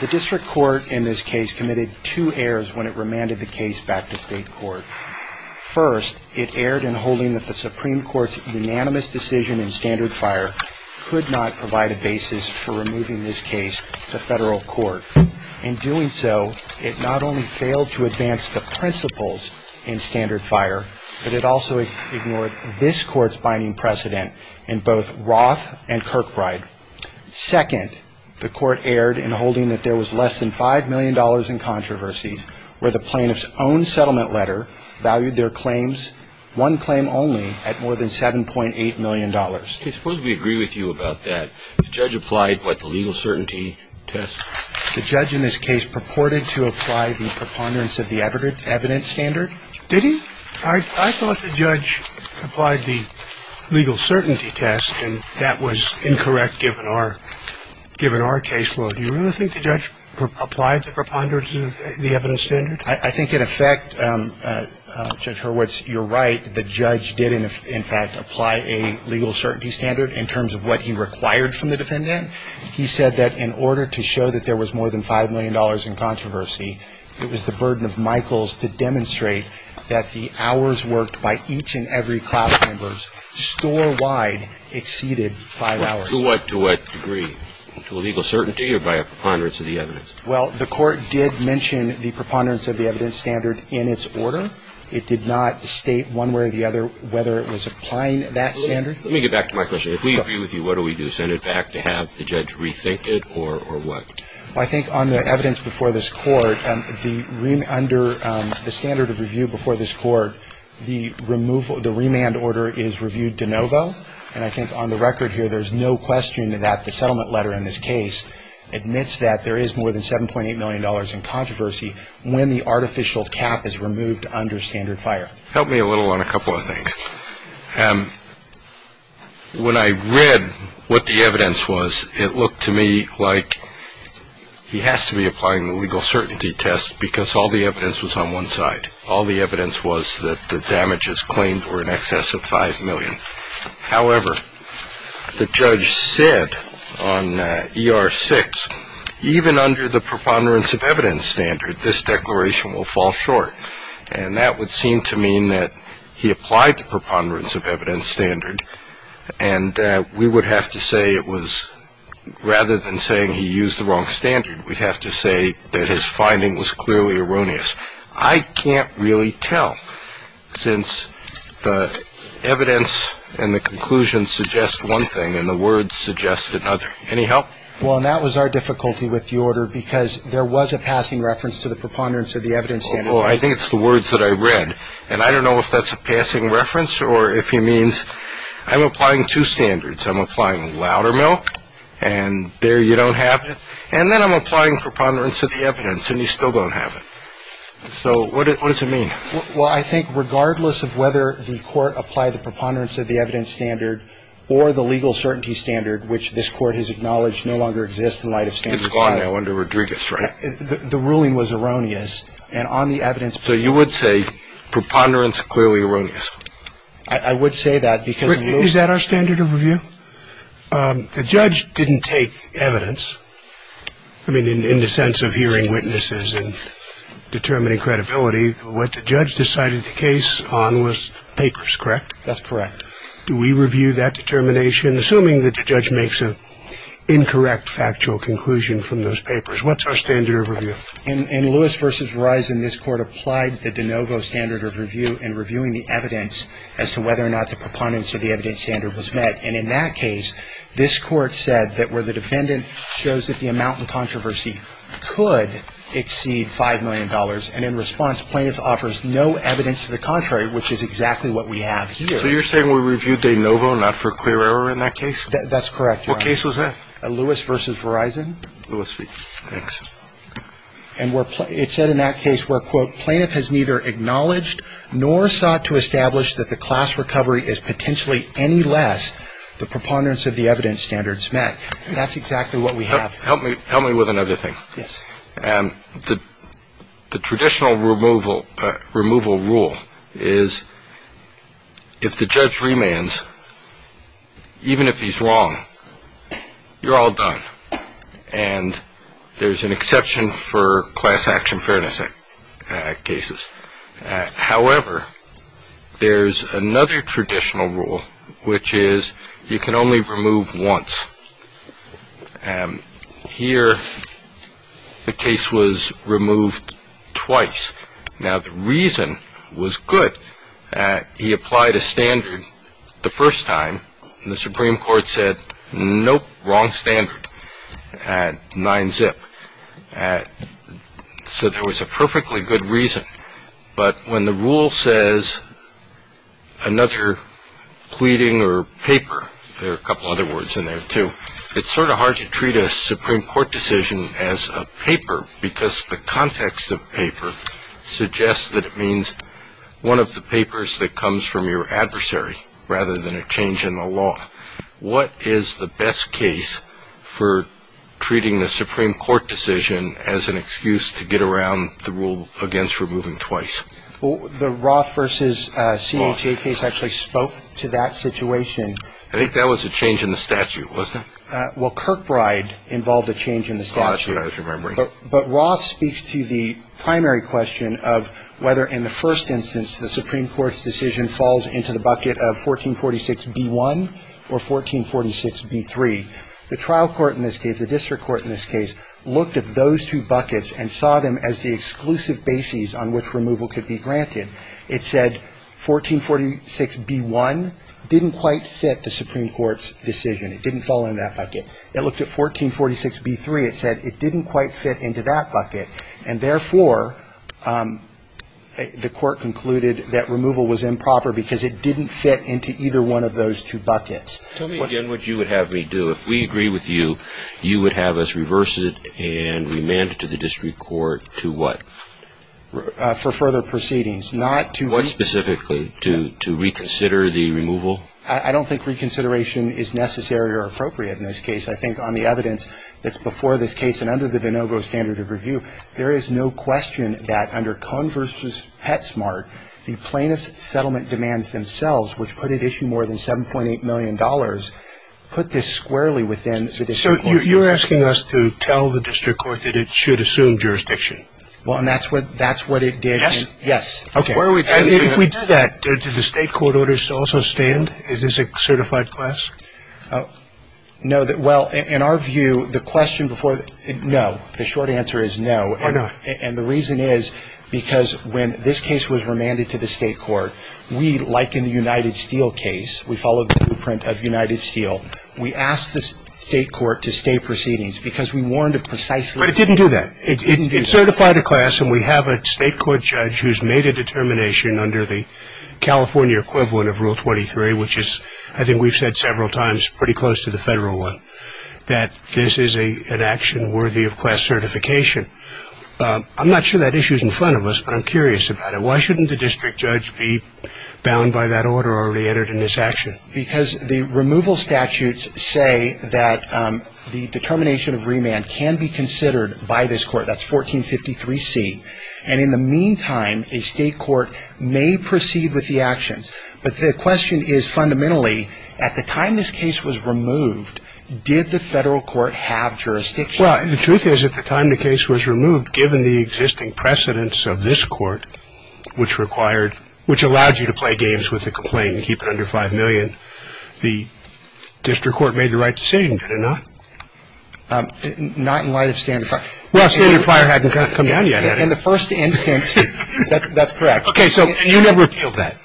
The district court in this case committed two errors when it remanded the case back to state court. First, it erred in holding that the Supreme Court's unanimous decision in Standard Fire could not provide a basis for removing this case to federal court. In doing so, it not only failed to advance the principles in Standard Fire, but it also ignored this court's binding precedent in both Roth and Kirkbride. Second, the court erred in holding that there was less than $5 million in controversies where the plaintiff's own settlement letter valued their claims, one claim only, at more than $7.8 million. I suppose we agree with you about that. The judge applied what the legal certainty test? The judge in this case purported to apply the preponderance of the evidence standard. Did he? I thought the judge applied the legal certainty test, and that was incorrect given our case law. Do you really think the judge applied the preponderance of the evidence standard? I think, in effect, Judge Hurwitz, you're right. The judge did, in fact, apply a legal certainty standard in terms of what he required from the defendant. He said that in order to show that there was more than $5 million in controversy, it was the burden of Michaels to demonstrate that the hours worked by each and every class member, store-wide, exceeded five hours. To what degree? To a legal certainty or by a preponderance of the evidence? Well, the court did mention the preponderance of the evidence standard in its order. It did not state one way or the other whether it was applying that standard. Let me get back to my question. If we agree with you, what do we do, send it back to have the judge rethink it or what? Well, I think on the evidence before this court, under the standard of review before this court, the remand order is reviewed de novo. And I think on the record here, there's no question that the settlement letter in this case admits that there is more than $7.8 million in controversy when the artificial cap is removed under standard fire. Help me a little on a couple of things. When I read what the evidence was, it looked to me like he has to be applying the legal certainty test because all the evidence was on one side. All the evidence was that the damages claimed were in excess of $5 million. However, the judge said on ER 6, even under the preponderance of evidence standard, this declaration will fall short. And that would seem to mean that he applied the preponderance of evidence standard and we would have to say it was rather than saying he used the wrong standard, we'd have to say that his finding was clearly erroneous. I can't really tell since the evidence and the conclusion suggest one thing and the words suggest another. Any help? Well, and that was our difficulty with the order because there was a passing reference to the preponderance of the evidence standard. Well, I think it's the words that I read. And I don't know if that's a passing reference or if he means I'm applying two standards. I'm applying louder milk and there you don't have it. And then I'm applying preponderance of the evidence and you still don't have it. So what does it mean? Well, I think regardless of whether the court applied the preponderance of the evidence standard or the legal certainty standard, which this court has acknowledged no longer exists in light of standard fire. It's gone now under Rodriguez, right? The ruling was erroneous. And on the evidence. So you would say preponderance clearly erroneous. I would say that because. Is that our standard of review? The judge didn't take evidence. I mean, in the sense of hearing witnesses and determining credibility, what the judge decided the case on was papers, correct? That's correct. Do we review that determination, assuming that the judge makes an incorrect factual conclusion from those papers? What's our standard of review? In Lewis v. Verizon, this court applied the DeNovo standard of review in reviewing the evidence as to whether or not the preponderance of the evidence standard was met. And in that case, this court said that where the defendant shows that the amount in controversy could exceed $5 million. And in response, plaintiff offers no evidence to the contrary, which is exactly what we have here. So you're saying we reviewed DeNovo not for clear error in that case? What case was that? Lewis v. Verizon. Lewis v. Thanks. And it's said in that case where, quote, plaintiff has neither acknowledged nor sought to establish that the class recovery is potentially any less the preponderance of the evidence standards met. That's exactly what we have. Help me with another thing. Yes. The traditional removal rule is if the judge remands, even if he's wrong, you're all done. And there's an exception for class action fairness cases. However, there's another traditional rule, which is you can only remove once. Here, the case was removed twice. Now, the reason was good. He applied a standard the first time. And the Supreme Court said, nope, wrong standard, 9-zip. So there was a perfectly good reason. But when the rule says another pleading or paper, there are a couple other words in there, too, it's sort of hard to treat a Supreme Court decision as a paper because the context of paper suggests that it means one of the papers that comes from your adversary rather than a change in the law. What is the best case for treating the Supreme Court decision as an excuse to get around the rule against removing twice? The Roth versus CHA case actually spoke to that situation. I think that was a change in the statute, wasn't it? Well, Kirkbride involved a change in the statute. Oh, that's what I was remembering. But Roth speaks to the primary question of whether, in the first instance, the Supreme Court's decision falls into the bucket of 1446b-1 or 1446b-3. The trial court in this case, the district court in this case, looked at those two buckets and saw them as the exclusive bases on which removal could be granted. It said 1446b-1 didn't quite fit the Supreme Court's decision. It didn't fall in that bucket. It looked at 1446b-3. It said it didn't quite fit into that bucket. And therefore, the court concluded that removal was improper because it didn't fit into either one of those two buckets. Tell me again what you would have me do. If we agree with you, you would have us reverse it and remand it to the district court to what? For further proceedings, not to reconsider. What specifically? To reconsider the removal? I don't think reconsideration is necessary or appropriate in this case. I think on the evidence that's before this case and under the Vinogro standard of review, there is no question that under Cohn v. Petsmart, the plaintiff's settlement demands themselves, which put at issue more than $7.8 million, put this squarely within the district court's jurisdiction. So you're asking us to tell the district court that it should assume jurisdiction? Well, and that's what it did. Yes? Okay. If we do that, do the state court orders also stand? Is this a certified class? No. Well, in our view, the question before the ‑‑ no. The short answer is no. Why not? And the reason is because when this case was remanded to the state court, we, like in the United Steel case, we followed the blueprint of United Steel. We asked the state court to stay proceedings because we warned of precisely ‑‑ But it didn't do that. It didn't do that. We made a class, and we have a state court judge who's made a determination under the California equivalent of Rule 23, which is, I think we've said several times, pretty close to the federal one, that this is an action worthy of class certification. I'm not sure that issue is in front of us, but I'm curious about it. Why shouldn't the district judge be bound by that order already entered in this action? Because the removal statutes say that the determination of remand can be considered by this court. That's 1453C. And in the meantime, a state court may proceed with the actions. But the question is fundamentally, at the time this case was removed, did the federal court have jurisdiction? Well, the truth is at the time the case was removed, given the existing precedence of this court, which allowed you to play games with the complaint and keep it under 5 million, the district court made the right decision, did it not? Not in light of standard ‑‑ Roth's standard fire hadn't come down yet, had it? In the first instance, that's correct. Okay. So you never appealed that?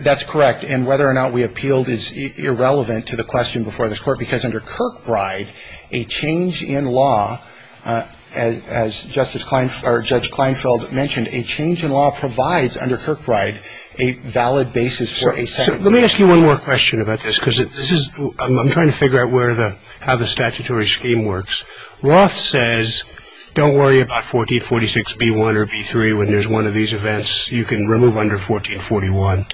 That's correct. And whether or not we appealed is irrelevant to the question before this court, because under Kirkbride, a change in law, as Justice ‑‑ or Judge Kleinfeld mentioned, a change in law provides under Kirkbride a valid basis for a ‑‑ So let me ask you one more question about this, because this is ‑‑ I'm trying to figure out where the ‑‑ how the statutory scheme works. Roth says don't worry about 1446B1 or B3 when there's one of these events. You can remove under 1441.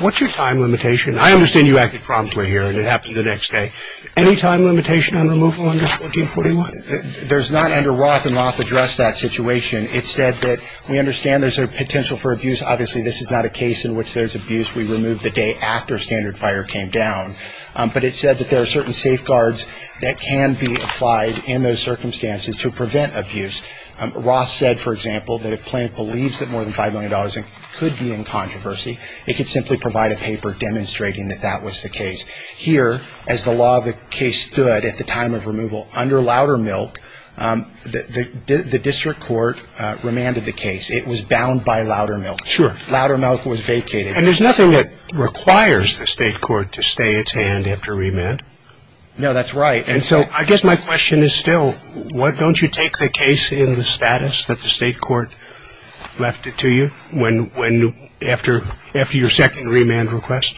What's your time limitation? I understand you acted promptly here and it happened the next day. Any time limitation on removal under 1441? There's not under Roth, and Roth addressed that situation. It said that we understand there's a potential for abuse. Obviously, this is not a case in which there's abuse. We removed the day after standard fire came down. But it said that there are certain safeguards that can be applied in those circumstances to prevent abuse. Roth said, for example, that if plaintiff believes that more than $5 million could be in controversy, it could simply provide a paper demonstrating that that was the case. Here, as the law of the case stood at the time of removal, under Loudermilk, the district court remanded the case. It was bound by Loudermilk. Sure. Loudermilk was vacated. And there's nothing that requires the state court to stay its hand after remand? No, that's right. And so I guess my question is still, don't you take the case in the status that the state court left it to you after your second remand request?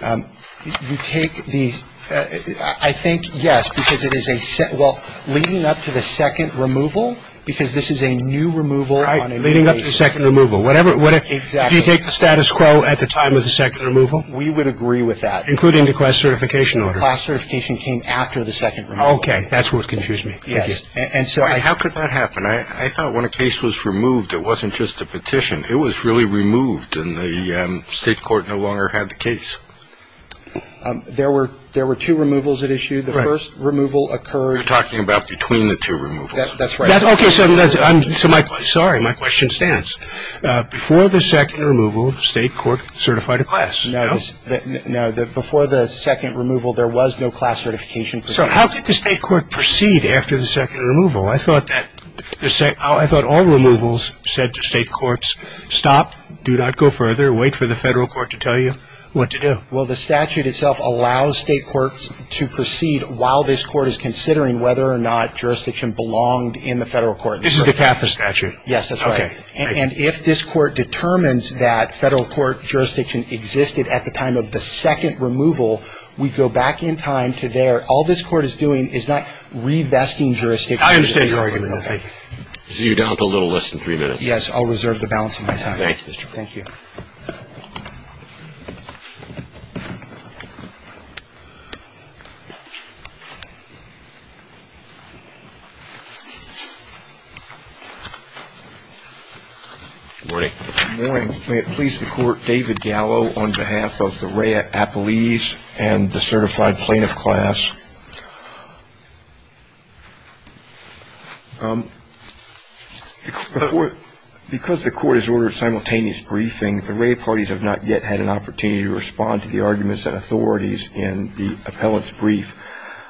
You take the – I think, yes, because it is a – well, leading up to the second removal, because this is a new removal on a new case. Leading up to second removal. Exactly. Do you take the status quo at the time of the second removal? We would agree with that. Including the class certification order? The class certification came after the second removal. Okay. That's what confused me. Yes. And so I – How could that happen? I thought when a case was removed, it wasn't just a petition. It was really removed, and the state court no longer had the case. There were two removals at issue. Right. The first removal occurred – You're talking about between the two removals. That's right. Okay. So my – sorry. My question stands. Before the second removal, the state court certified a class. No. No. Before the second removal, there was no class certification procedure. So how did the state court proceed after the second removal? I thought that – I thought all removals said to state courts, stop, do not go further, wait for the federal court to tell you what to do. Well, the statute itself allows state courts to proceed while this court is considering whether or not jurisdiction belonged in the federal court. This is the CAFA statute. Yes, that's right. And if this Court determines that federal court jurisdiction existed at the time of the second removal, we go back in time to there. All this Court is doing is not revesting jurisdiction. I understand your argument. Thank you. You're down to a little less than three minutes. Yes. I'll reserve the balance of my time. Thank you. Thank you. Good morning. Good morning. May it please the Court, David Gallo on behalf of the REA Appellees and the certified plaintiff class. Because the Court has ordered simultaneous briefing, the REA parties have not yet had an opportunity to respond to the arguments and authorities in the appellant's brief.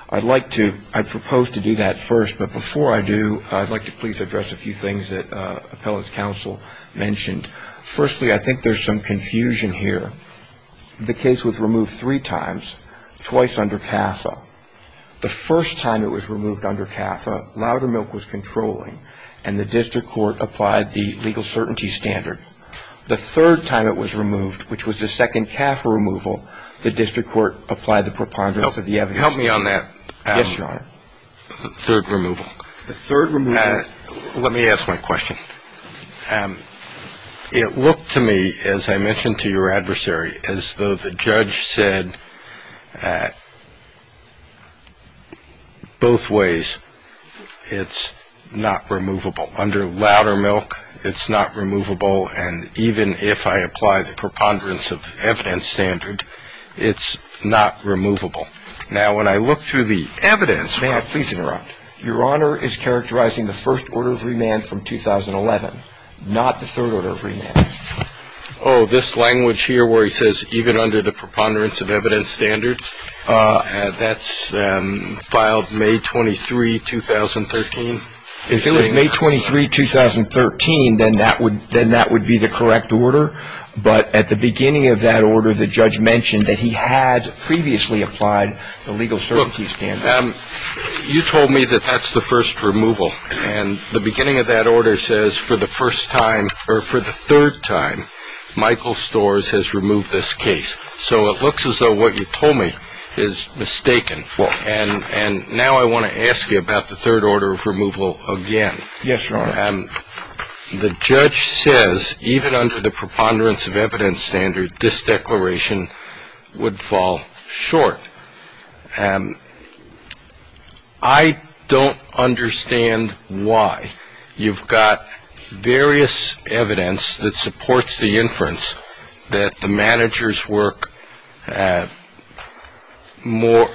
I'd like to – I propose to do that first, but before I do, I'd like to please address a few things that appellant's counsel mentioned. Firstly, I think there's some confusion here. The case was removed three times, twice under CAFA. The first time it was removed under CAFA, Loudermilk was controlling, and the district court applied the legal certainty standard. The third time it was removed, which was the second CAFA removal, the district court applied the preponderance of the evidence. Help me on that. Yes, Your Honor. The third removal. The third removal. Let me ask my question. It looked to me, as I mentioned to your adversary, as though the judge said both ways, it's not removable. Under Loudermilk, it's not removable, and even if I apply the preponderance of evidence standard, it's not removable. Now, when I look through the evidence – May I please interrupt? Your Honor is characterizing the first order of remand from 2011, not the third order of remand. Oh, this language here where he says, even under the preponderance of evidence standard, that's filed May 23, 2013? If it was May 23, 2013, then that would be the correct order. But at the beginning of that order, the judge mentioned that he had previously applied the legal certainty standard. You told me that that's the first removal, and the beginning of that order says for the first time, or for the third time, Michael Storrs has removed this case. So it looks as though what you told me is mistaken, and now I want to ask you about the third order of removal again. Yes, Your Honor. The judge says, even under the preponderance of evidence standard, this declaration would fall short. I don't understand why you've got various evidence that supports the inference that the managers work more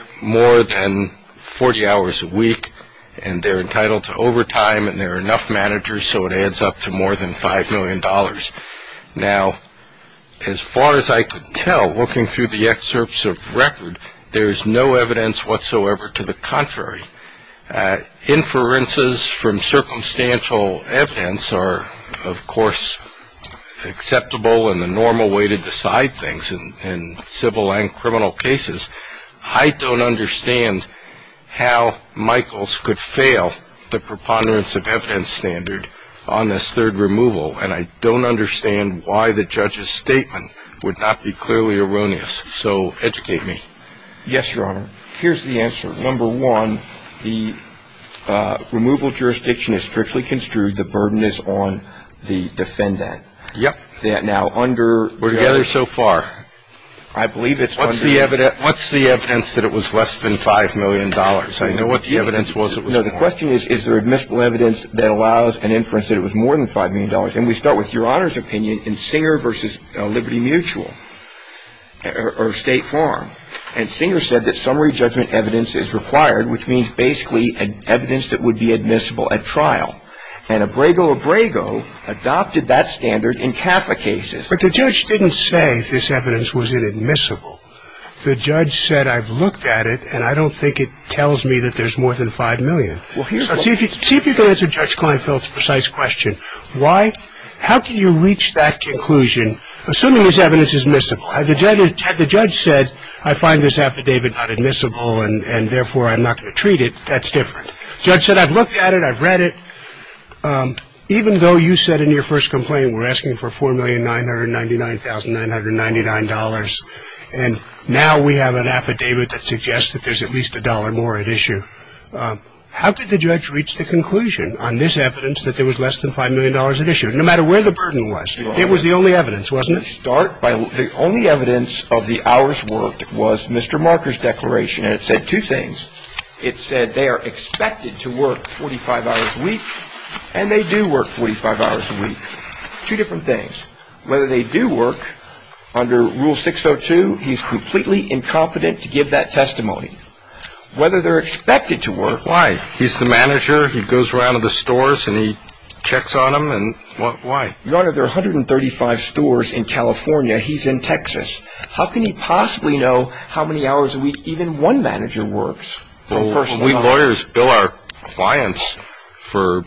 than 40 hours a week, and they're entitled to overtime, and there are enough managers, so it adds up to more than $5 million. Now, as far as I could tell, looking through the excerpts of record, there's no evidence whatsoever to the contrary. Inferences from circumstantial evidence are, of course, acceptable in the normal way to decide things in civil and criminal cases. I don't understand how Michaels could fail the preponderance of evidence standard on this third removal, and I don't understand why the judge's statement would not be clearly erroneous. So educate me. Yes, Your Honor. Here's the answer. Number one, the removal jurisdiction is strictly construed. The burden is on the defendant. Yep. Now, under the judge's ---- We're together so far. I believe it's under ---- I know what the evidence was it was $5 million. No, the question is, is there admissible evidence that allows an inference that it was more than $5 million? And we start with Your Honor's opinion in Singer v. Liberty Mutual or State Farm. And Singer said that summary judgment evidence is required, which means basically evidence that would be admissible at trial. And Abrego Abrego adopted that standard in Catholic cases. But the judge didn't say this evidence was inadmissible. The judge said, I've looked at it, and I don't think it tells me that there's more than $5 million. See if you can answer Judge Kleinfeld's precise question. How can you reach that conclusion, assuming this evidence is admissible? Had the judge said, I find this affidavit not admissible, and therefore I'm not going to treat it, that's different. The judge said, I've looked at it, I've read it. Even though you said in your first complaint we're asking for $4,999,999, and now we have an affidavit that suggests that there's at least a dollar more at issue, how did the judge reach the conclusion on this evidence that there was less than $5 million at issue, no matter where the burden was? It was the only evidence, wasn't it? The only evidence of the hours worked was Mr. Marker's declaration, and it said two things. It said they are expected to work 45 hours a week, and they do work 45 hours a week. Two different things. Whether they do work, under Rule 602, he's completely incompetent to give that testimony. Whether they're expected to work. Why? He's the manager. He goes around to the stores, and he checks on them. Why? Your Honor, there are 135 stores in California. He's in Texas. How can he possibly know how many hours a week even one manager works? We lawyers bill our clients for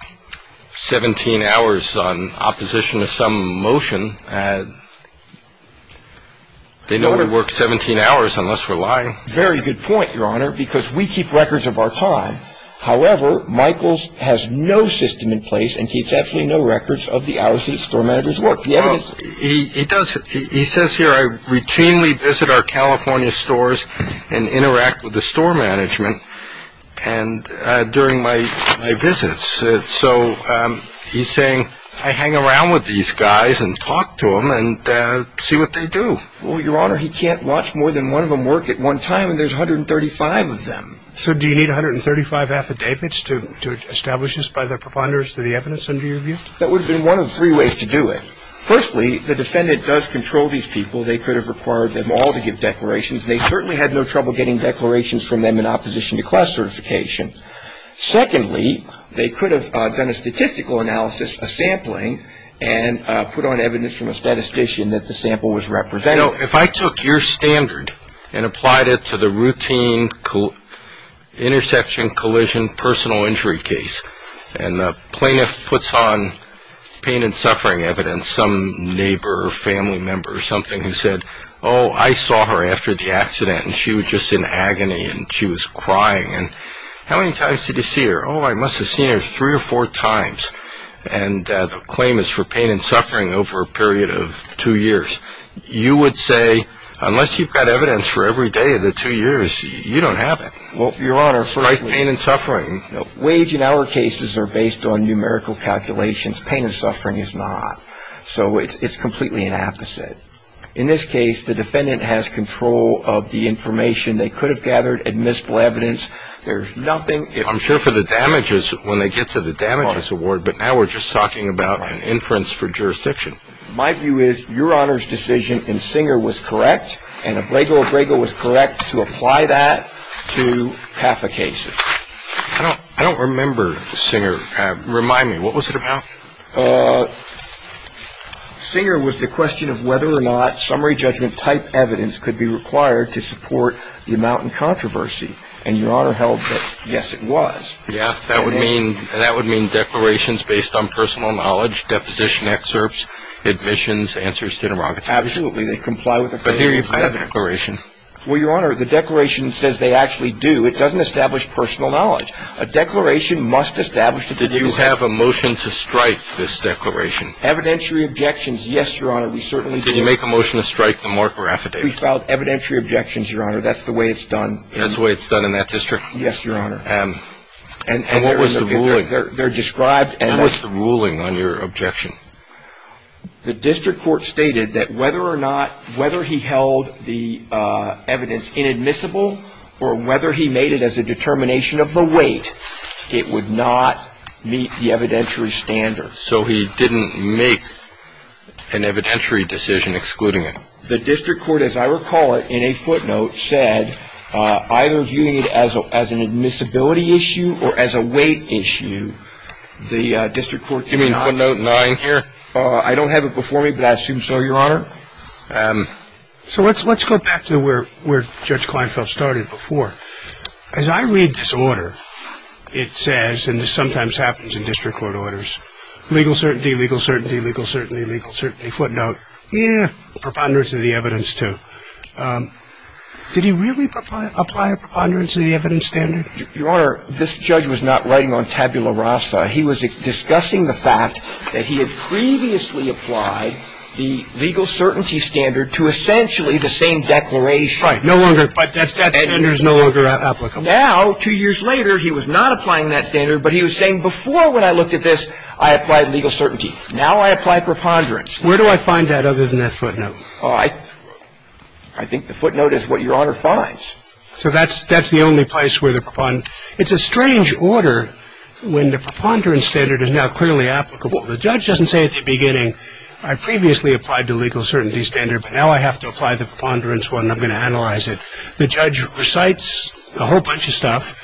17 hours on opposition to some motion. They know we work 17 hours unless we're lying. Very good point, Your Honor, because we keep records of our time. However, Michaels has no system in place and keeps absolutely no records of the hours that store managers work. He does. He says here, I routinely visit our California stores and interact with the store management during my visits. So he's saying, I hang around with these guys and talk to them and see what they do. Well, Your Honor, he can't watch more than one of them work at one time, and there's 135 of them. So do you need 135 affidavits to establish this by the preponderance of the evidence under your view? That would have been one of three ways to do it. Firstly, the defendant does control these people. They could have required them all to give declarations, and they certainly had no trouble getting declarations from them in opposition to class certification. Secondly, they could have done a statistical analysis, a sampling, and put on evidence from a statistician that the sample was representative. If I took your standard and applied it to the routine intersection collision personal injury case, and the plaintiff puts on pain and suffering evidence, some neighbor or family member or something who said, oh, I saw her after the accident, and she was just in agony, and she was crying. And how many times did you see her? Oh, I must have seen her three or four times. And the claim is for pain and suffering over a period of two years. You would say, unless you've got evidence for every day of the two years, you don't have it. Well, Your Honor, first of all— Strike pain and suffering. Wage in our cases are based on numerical calculations. Pain and suffering is not. So it's completely an opposite. In this case, the defendant has control of the information. They could have gathered admissible evidence. There's nothing— I'm sure for the damages, when they get to the damages award, but now we're just talking about an inference for jurisdiction. My view is Your Honor's decision in Singer was correct, and Obrego Obrego was correct to apply that to half the cases. I don't remember Singer. Remind me. What was it about? Singer was the question of whether or not summary judgment-type evidence could be required to support the amount in controversy. And Your Honor held that, yes, it was. Yeah, that would mean declarations based on personal knowledge, deposition excerpts, admissions, answers to interrogations. Absolutely. They comply with the criteria. But here you've got a declaration. Well, Your Honor, the declaration says they actually do. It doesn't establish personal knowledge. A declaration must establish that they do have— Did you have a motion to strike this declaration? Evidentiary objections, yes, Your Honor. We certainly did. Did you make a motion to strike the marker affidavit? We filed evidentiary objections, Your Honor. That's the way it's done. That's the way it's done in that district? Yes, Your Honor. And what was the ruling? They're described— What was the ruling on your objection? The district court stated that whether or not, whether he held the evidence inadmissible or whether he made it as a determination of the weight, it would not meet the evidentiary standards. So he didn't make an evidentiary decision excluding it. The district court, as I recall it, in a footnote, said either viewing it as an admissibility issue or as a weight issue, the district court did not— You mean footnote 9 here? I don't have it before me, but I assume so, Your Honor. So let's go back to where Judge Kleinfeld started before. As I read this order, it says, and this sometimes happens in district court orders, legal certainty, legal certainty, legal certainty, legal certainty, footnote, yeah, preponderance of the evidence too. Did he really apply a preponderance of the evidence standard? Your Honor, this judge was not writing on tabula rasa. He was discussing the fact that he had previously applied the legal certainty standard to essentially the same declaration. Right. No longer. But that standard is no longer applicable. Now, two years later, he was not applying that standard, but he was saying before when I looked at this, I applied legal certainty. Now I apply preponderance. Where do I find that other than that footnote? I think the footnote is what Your Honor finds. So that's the only place where the preponderance. It's a strange order when the preponderance standard is now clearly applicable. The judge doesn't say at the beginning, I previously applied the legal certainty standard, but now I have to apply the preponderance one, and I'm going to analyze it. The judge recites a whole bunch of stuff,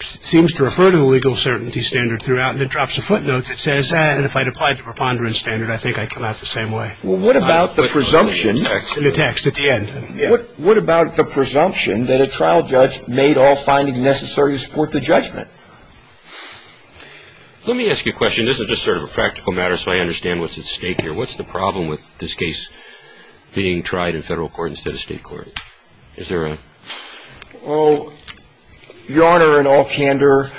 seems to refer to the legal certainty standard throughout, and then drops a footnote that says, and if I'd applied the preponderance standard, I think I'd come out the same way. Well, what about the presumption? In the text, at the end. What about the presumption that a trial judge made all findings necessary to support the judgment? Let me ask you a question. This is just sort of a practical matter, so I understand what's at stake here. What's the problem with this case being tried in federal court instead of state court? Is there a? Well, Your Honor, in all candor,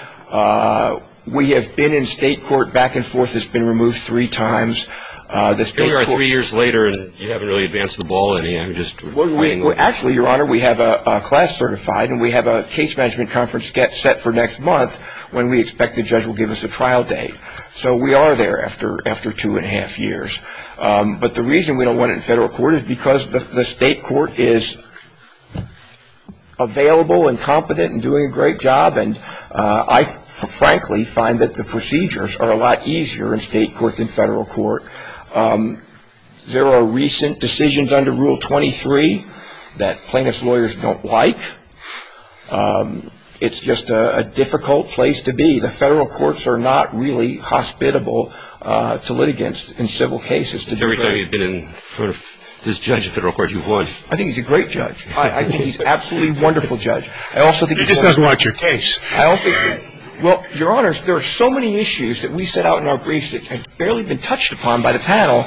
we have been in state court back and forth. It's been removed three times. Here we are three years later, and you haven't really advanced the ball any. Actually, Your Honor, we have a class certified, and we have a case management conference set for next month when we expect the judge will give us a trial date. So we are there after two and a half years. But the reason we don't want it in federal court is because the state court is available and competent and doing a great job, and I frankly find that the procedures are a lot easier in state court than federal court. There are recent decisions under Rule 23 that plaintiff's lawyers don't like. It's just a difficult place to be. The federal courts are not really hospitable to litigants in civil cases. If everybody had been in front of this judge in federal court, you would. I think he's a great judge. I think he's an absolutely wonderful judge. He just doesn't want your case. Well, Your Honor, there are so many issues that we set out in our briefs that have barely been touched upon by the panel.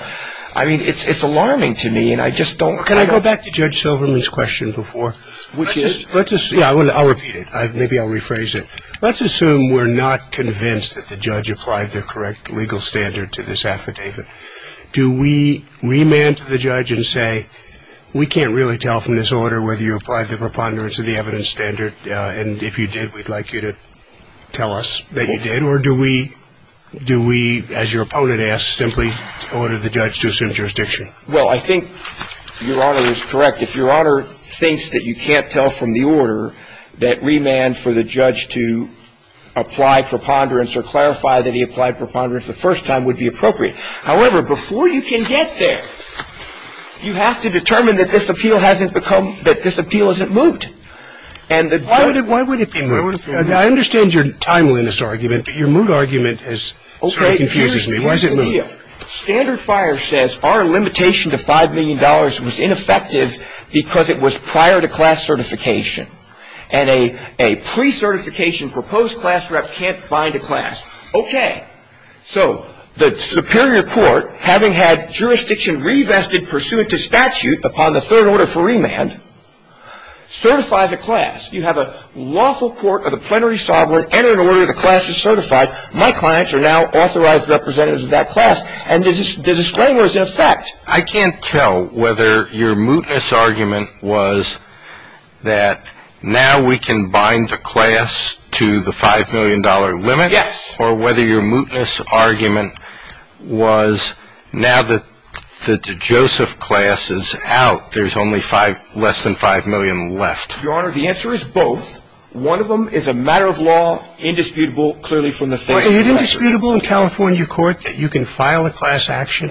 I mean, it's alarming to me, and I just don't. Can I go back to Judge Silverman's question before? Which is? Yeah, I'll repeat it. Maybe I'll rephrase it. Let's assume we're not convinced that the judge applied the correct legal standard to this affidavit. Do we remand to the judge and say, we can't really tell from this order whether you applied the preponderance of the evidence standard, and if you did, we'd like you to tell us that you did? Or do we, as your opponent asks, simply order the judge to assume jurisdiction? Well, I think Your Honor is correct. If Your Honor thinks that you can't tell from the order that remand for the judge to apply preponderance or clarify that he applied preponderance the first time would be appropriate. However, before you can get there, you have to determine that this appeal hasn't become, that this appeal isn't moot. Why would it be moot? I understand your timeliness argument, but your moot argument sort of confuses me. Why is it moot? Standard Fire says our limitation to $5 million was ineffective because it was prior to class certification. And a pre-certification proposed class rep can't bind a class. Okay. So the superior court, having had jurisdiction revested pursuant to statute upon the third order for remand, certifies a class. You have a lawful court of the plenary sovereign enter in order the class is certified. My clients are now authorized representatives of that class. And the disclaimer is in effect. I can't tell whether your mootness argument was that now we can bind the class to the $5 million limit. Yes. Or whether your mootness argument was now that the Joseph class is out, there's only less than $5 million left. Your Honor, the answer is both. One of them is a matter of law, indisputable, clearly from the third order. Is it indisputable in California court that you can file a class action,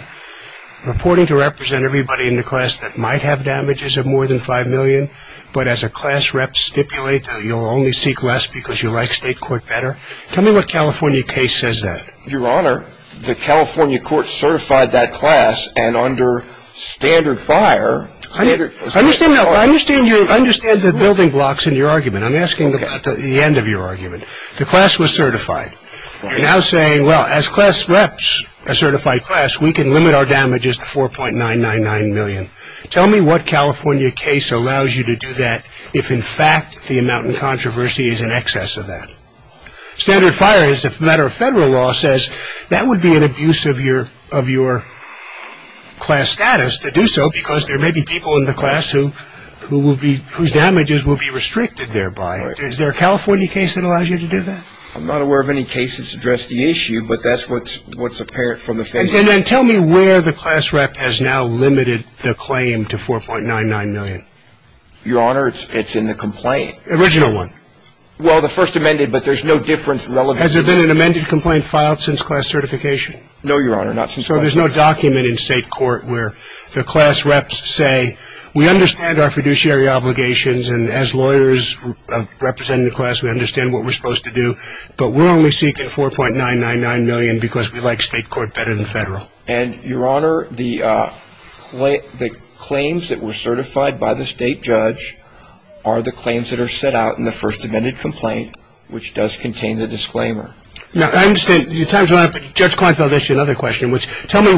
reporting to represent everybody in the class that might have damages of more than $5 million, but as a class rep stipulate that you'll only seek less because you like state court better? Tell me what California case says that. Your Honor, the California court certified that class, and under standard fire. I understand the building blocks in your argument. I'm asking about the end of your argument. The class was certified. You're now saying, well, as class reps, a certified class, we can limit our damages to $4.999 million. Tell me what California case allows you to do that if, in fact, the amount in controversy is in excess of that. Standard fire, as a matter of federal law, says that would be an abuse of your class status to do so because there may be people in the class whose damages will be restricted thereby. Is there a California case that allows you to do that? I'm not aware of any case that's addressed the issue, but that's what's apparent from the face of it. And then tell me where the class rep has now limited the claim to $4.99 million. Your Honor, it's in the complaint. The original one. Well, the first amended, but there's no difference. Has there been an amended complaint filed since class certification? No, Your Honor, not since class certification. So there's no document in state court where the class reps say, we understand our fiduciary obligations and as lawyers representing the class, we understand what we're supposed to do, but we're only seeking $4.99 million because we like state court better than federal. And, Your Honor, the claims that were certified by the state judge are the claims that are set out in the first amended complaint, which does contain the disclaimer. Now, I understand your time is up, but Judge Kleinfeld asked you another question, which tell me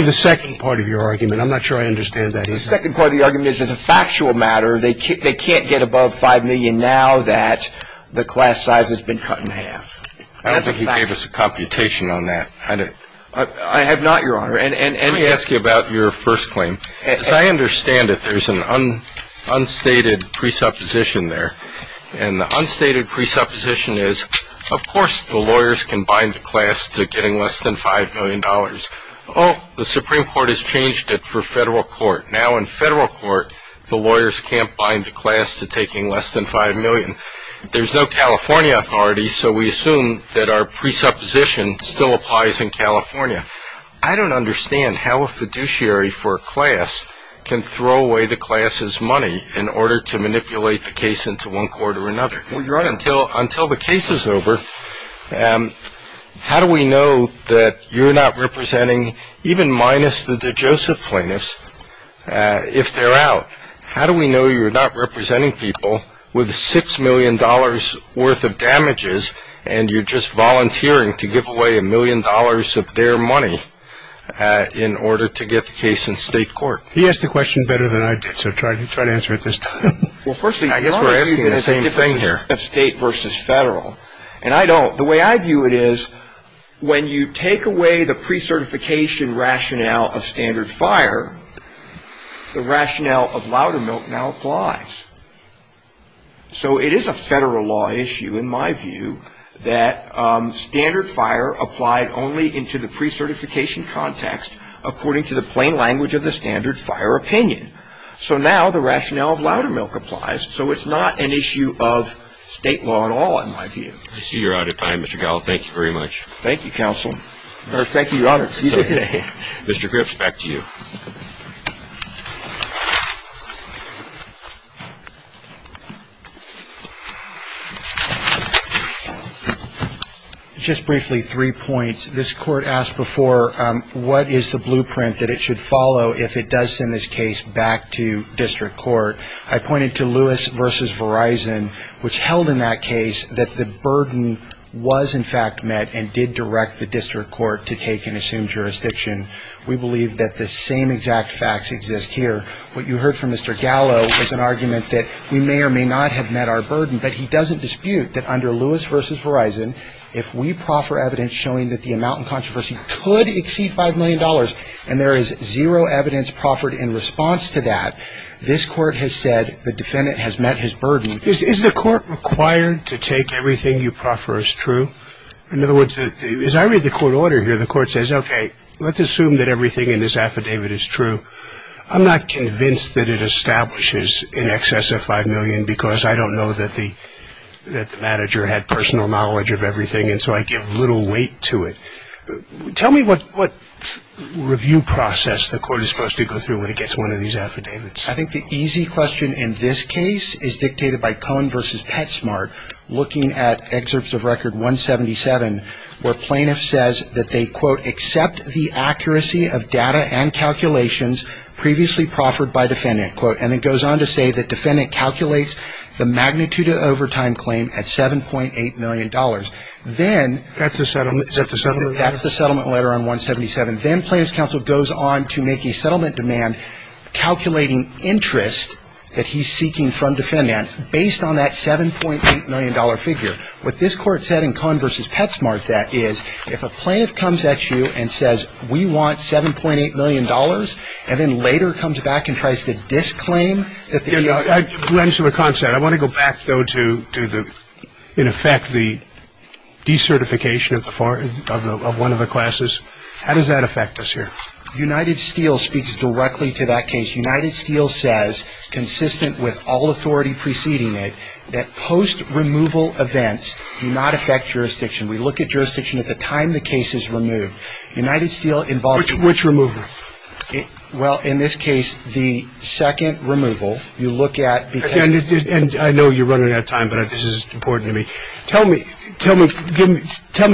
the second part of your argument. I'm not sure I understand that either. The second part of the argument is it's a factual matter. They can't get above $5 million now that the class size has been cut in half. I don't think he gave us a computation on that. I have not, Your Honor. Let me ask you about your first claim. As I understand it, there's an unstated presupposition there. And the unstated presupposition is, of course, the lawyers can bind the class to getting less than $5 million. Oh, the Supreme Court has changed it for federal court. Now, in federal court, the lawyers can't bind the class to taking less than $5 million. There's no California authority, so we assume that our presupposition still applies in California. I don't understand how a fiduciary for a class can throw away the class's money in order to manipulate the case into one court or another. Well, Your Honor, until the case is over, how do we know that you're not representing, even minus the DeJoseph plaintiffs, if they're out? How do we know you're not representing people with $6 million worth of damages and you're just volunteering to give away $1 million of their money in order to get the case in state court? He asked the question better than I did, so try to answer it this time. I guess we're asking the same thing here. We're asking the question of state versus federal, and I don't. The way I view it is when you take away the pre-certification rationale of standard FIRE, the rationale of Loudermilk now applies. So it is a federal law issue, in my view, that standard FIRE applied only into the pre-certification context according to the plain language of the standard FIRE opinion. So now the rationale of Loudermilk applies, so it's not an issue of state law at all, in my view. I see you're out of time, Mr. Gallo. Thank you very much. Thank you, Counsel. No, thank you, Your Honor. It's okay. Mr. Grips, back to you. Just briefly, three points. This Court asked before what is the blueprint that it should follow if it does send this case back to district court. I pointed to Lewis v. Verizon, which held in that case that the burden was in fact met and did direct the district court to take and assume jurisdiction. We believe that the same exact facts exist here. What you heard from Mr. Gallo was an argument that we may or may not have met our burden, but he doesn't dispute that under Lewis v. Verizon, if we proffer evidence showing that the amount in controversy could exceed $5 million and there is zero evidence proffered in response to that, this Court has said the defendant has met his burden. Is the Court required to take everything you proffer as true? In other words, as I read the court order here, the Court says, okay, let's assume that everything in this affidavit is true. I'm not convinced that it establishes in excess of $5 million because I don't know that the manager had personal knowledge of everything, and so I give little weight to it. Tell me what review process the Court is supposed to go through when it gets one of these affidavits. I think the easy question in this case is dictated by Cohen v. PetSmart, looking at excerpts of Record 177, where plaintiff says that they, quote, accept the accuracy of data and calculations previously proffered by defendant, quote, and then goes on to say that defendant calculates the magnitude of overtime claim at $7.8 million. Then, That's the settlement letter? That's the settlement letter on 177. Then plaintiff's counsel goes on to make a settlement demand, calculating interest that he's seeking from defendant based on that $7.8 million figure. What this Court said in Cohen v. PetSmart, that is, if a plaintiff comes at you and says, we want $7.8 million, and then later comes back and tries to disclaim that the ERC Let me see what Cohen said. I want to go back, though, to, in effect, the decertification of one of the classes. How does that affect us here? United Steel speaks directly to that case. United Steel says, consistent with all authority preceding it, that post-removal events do not affect jurisdiction. We look at jurisdiction at the time the case is removed. United Steel involves Which removal? Well, in this case, the second removal. You look at I know you're running out of time, but this is important to me. Tell me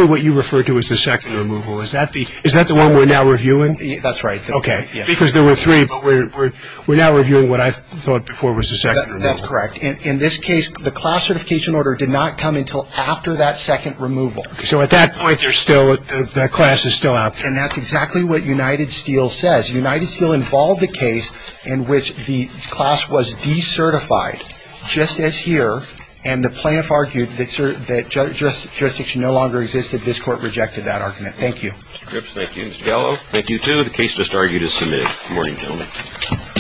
what you refer to as the second removal. Is that the one we're now reviewing? That's right. Okay. Because there were three, but we're now reviewing what I thought before was the second removal. That's correct. In this case, the class certification order did not come until after that second removal. So at that point, that class is still out there. And that's exactly what United Steel says. United Steel involved the case in which the class was decertified, just as here, and the plaintiff argued that jurisdiction no longer existed. This Court rejected that argument. Thank you. Mr. Grips, thank you. Mr. Gallo, thank you, too. The case just argued is submitted. Good morning, gentlemen.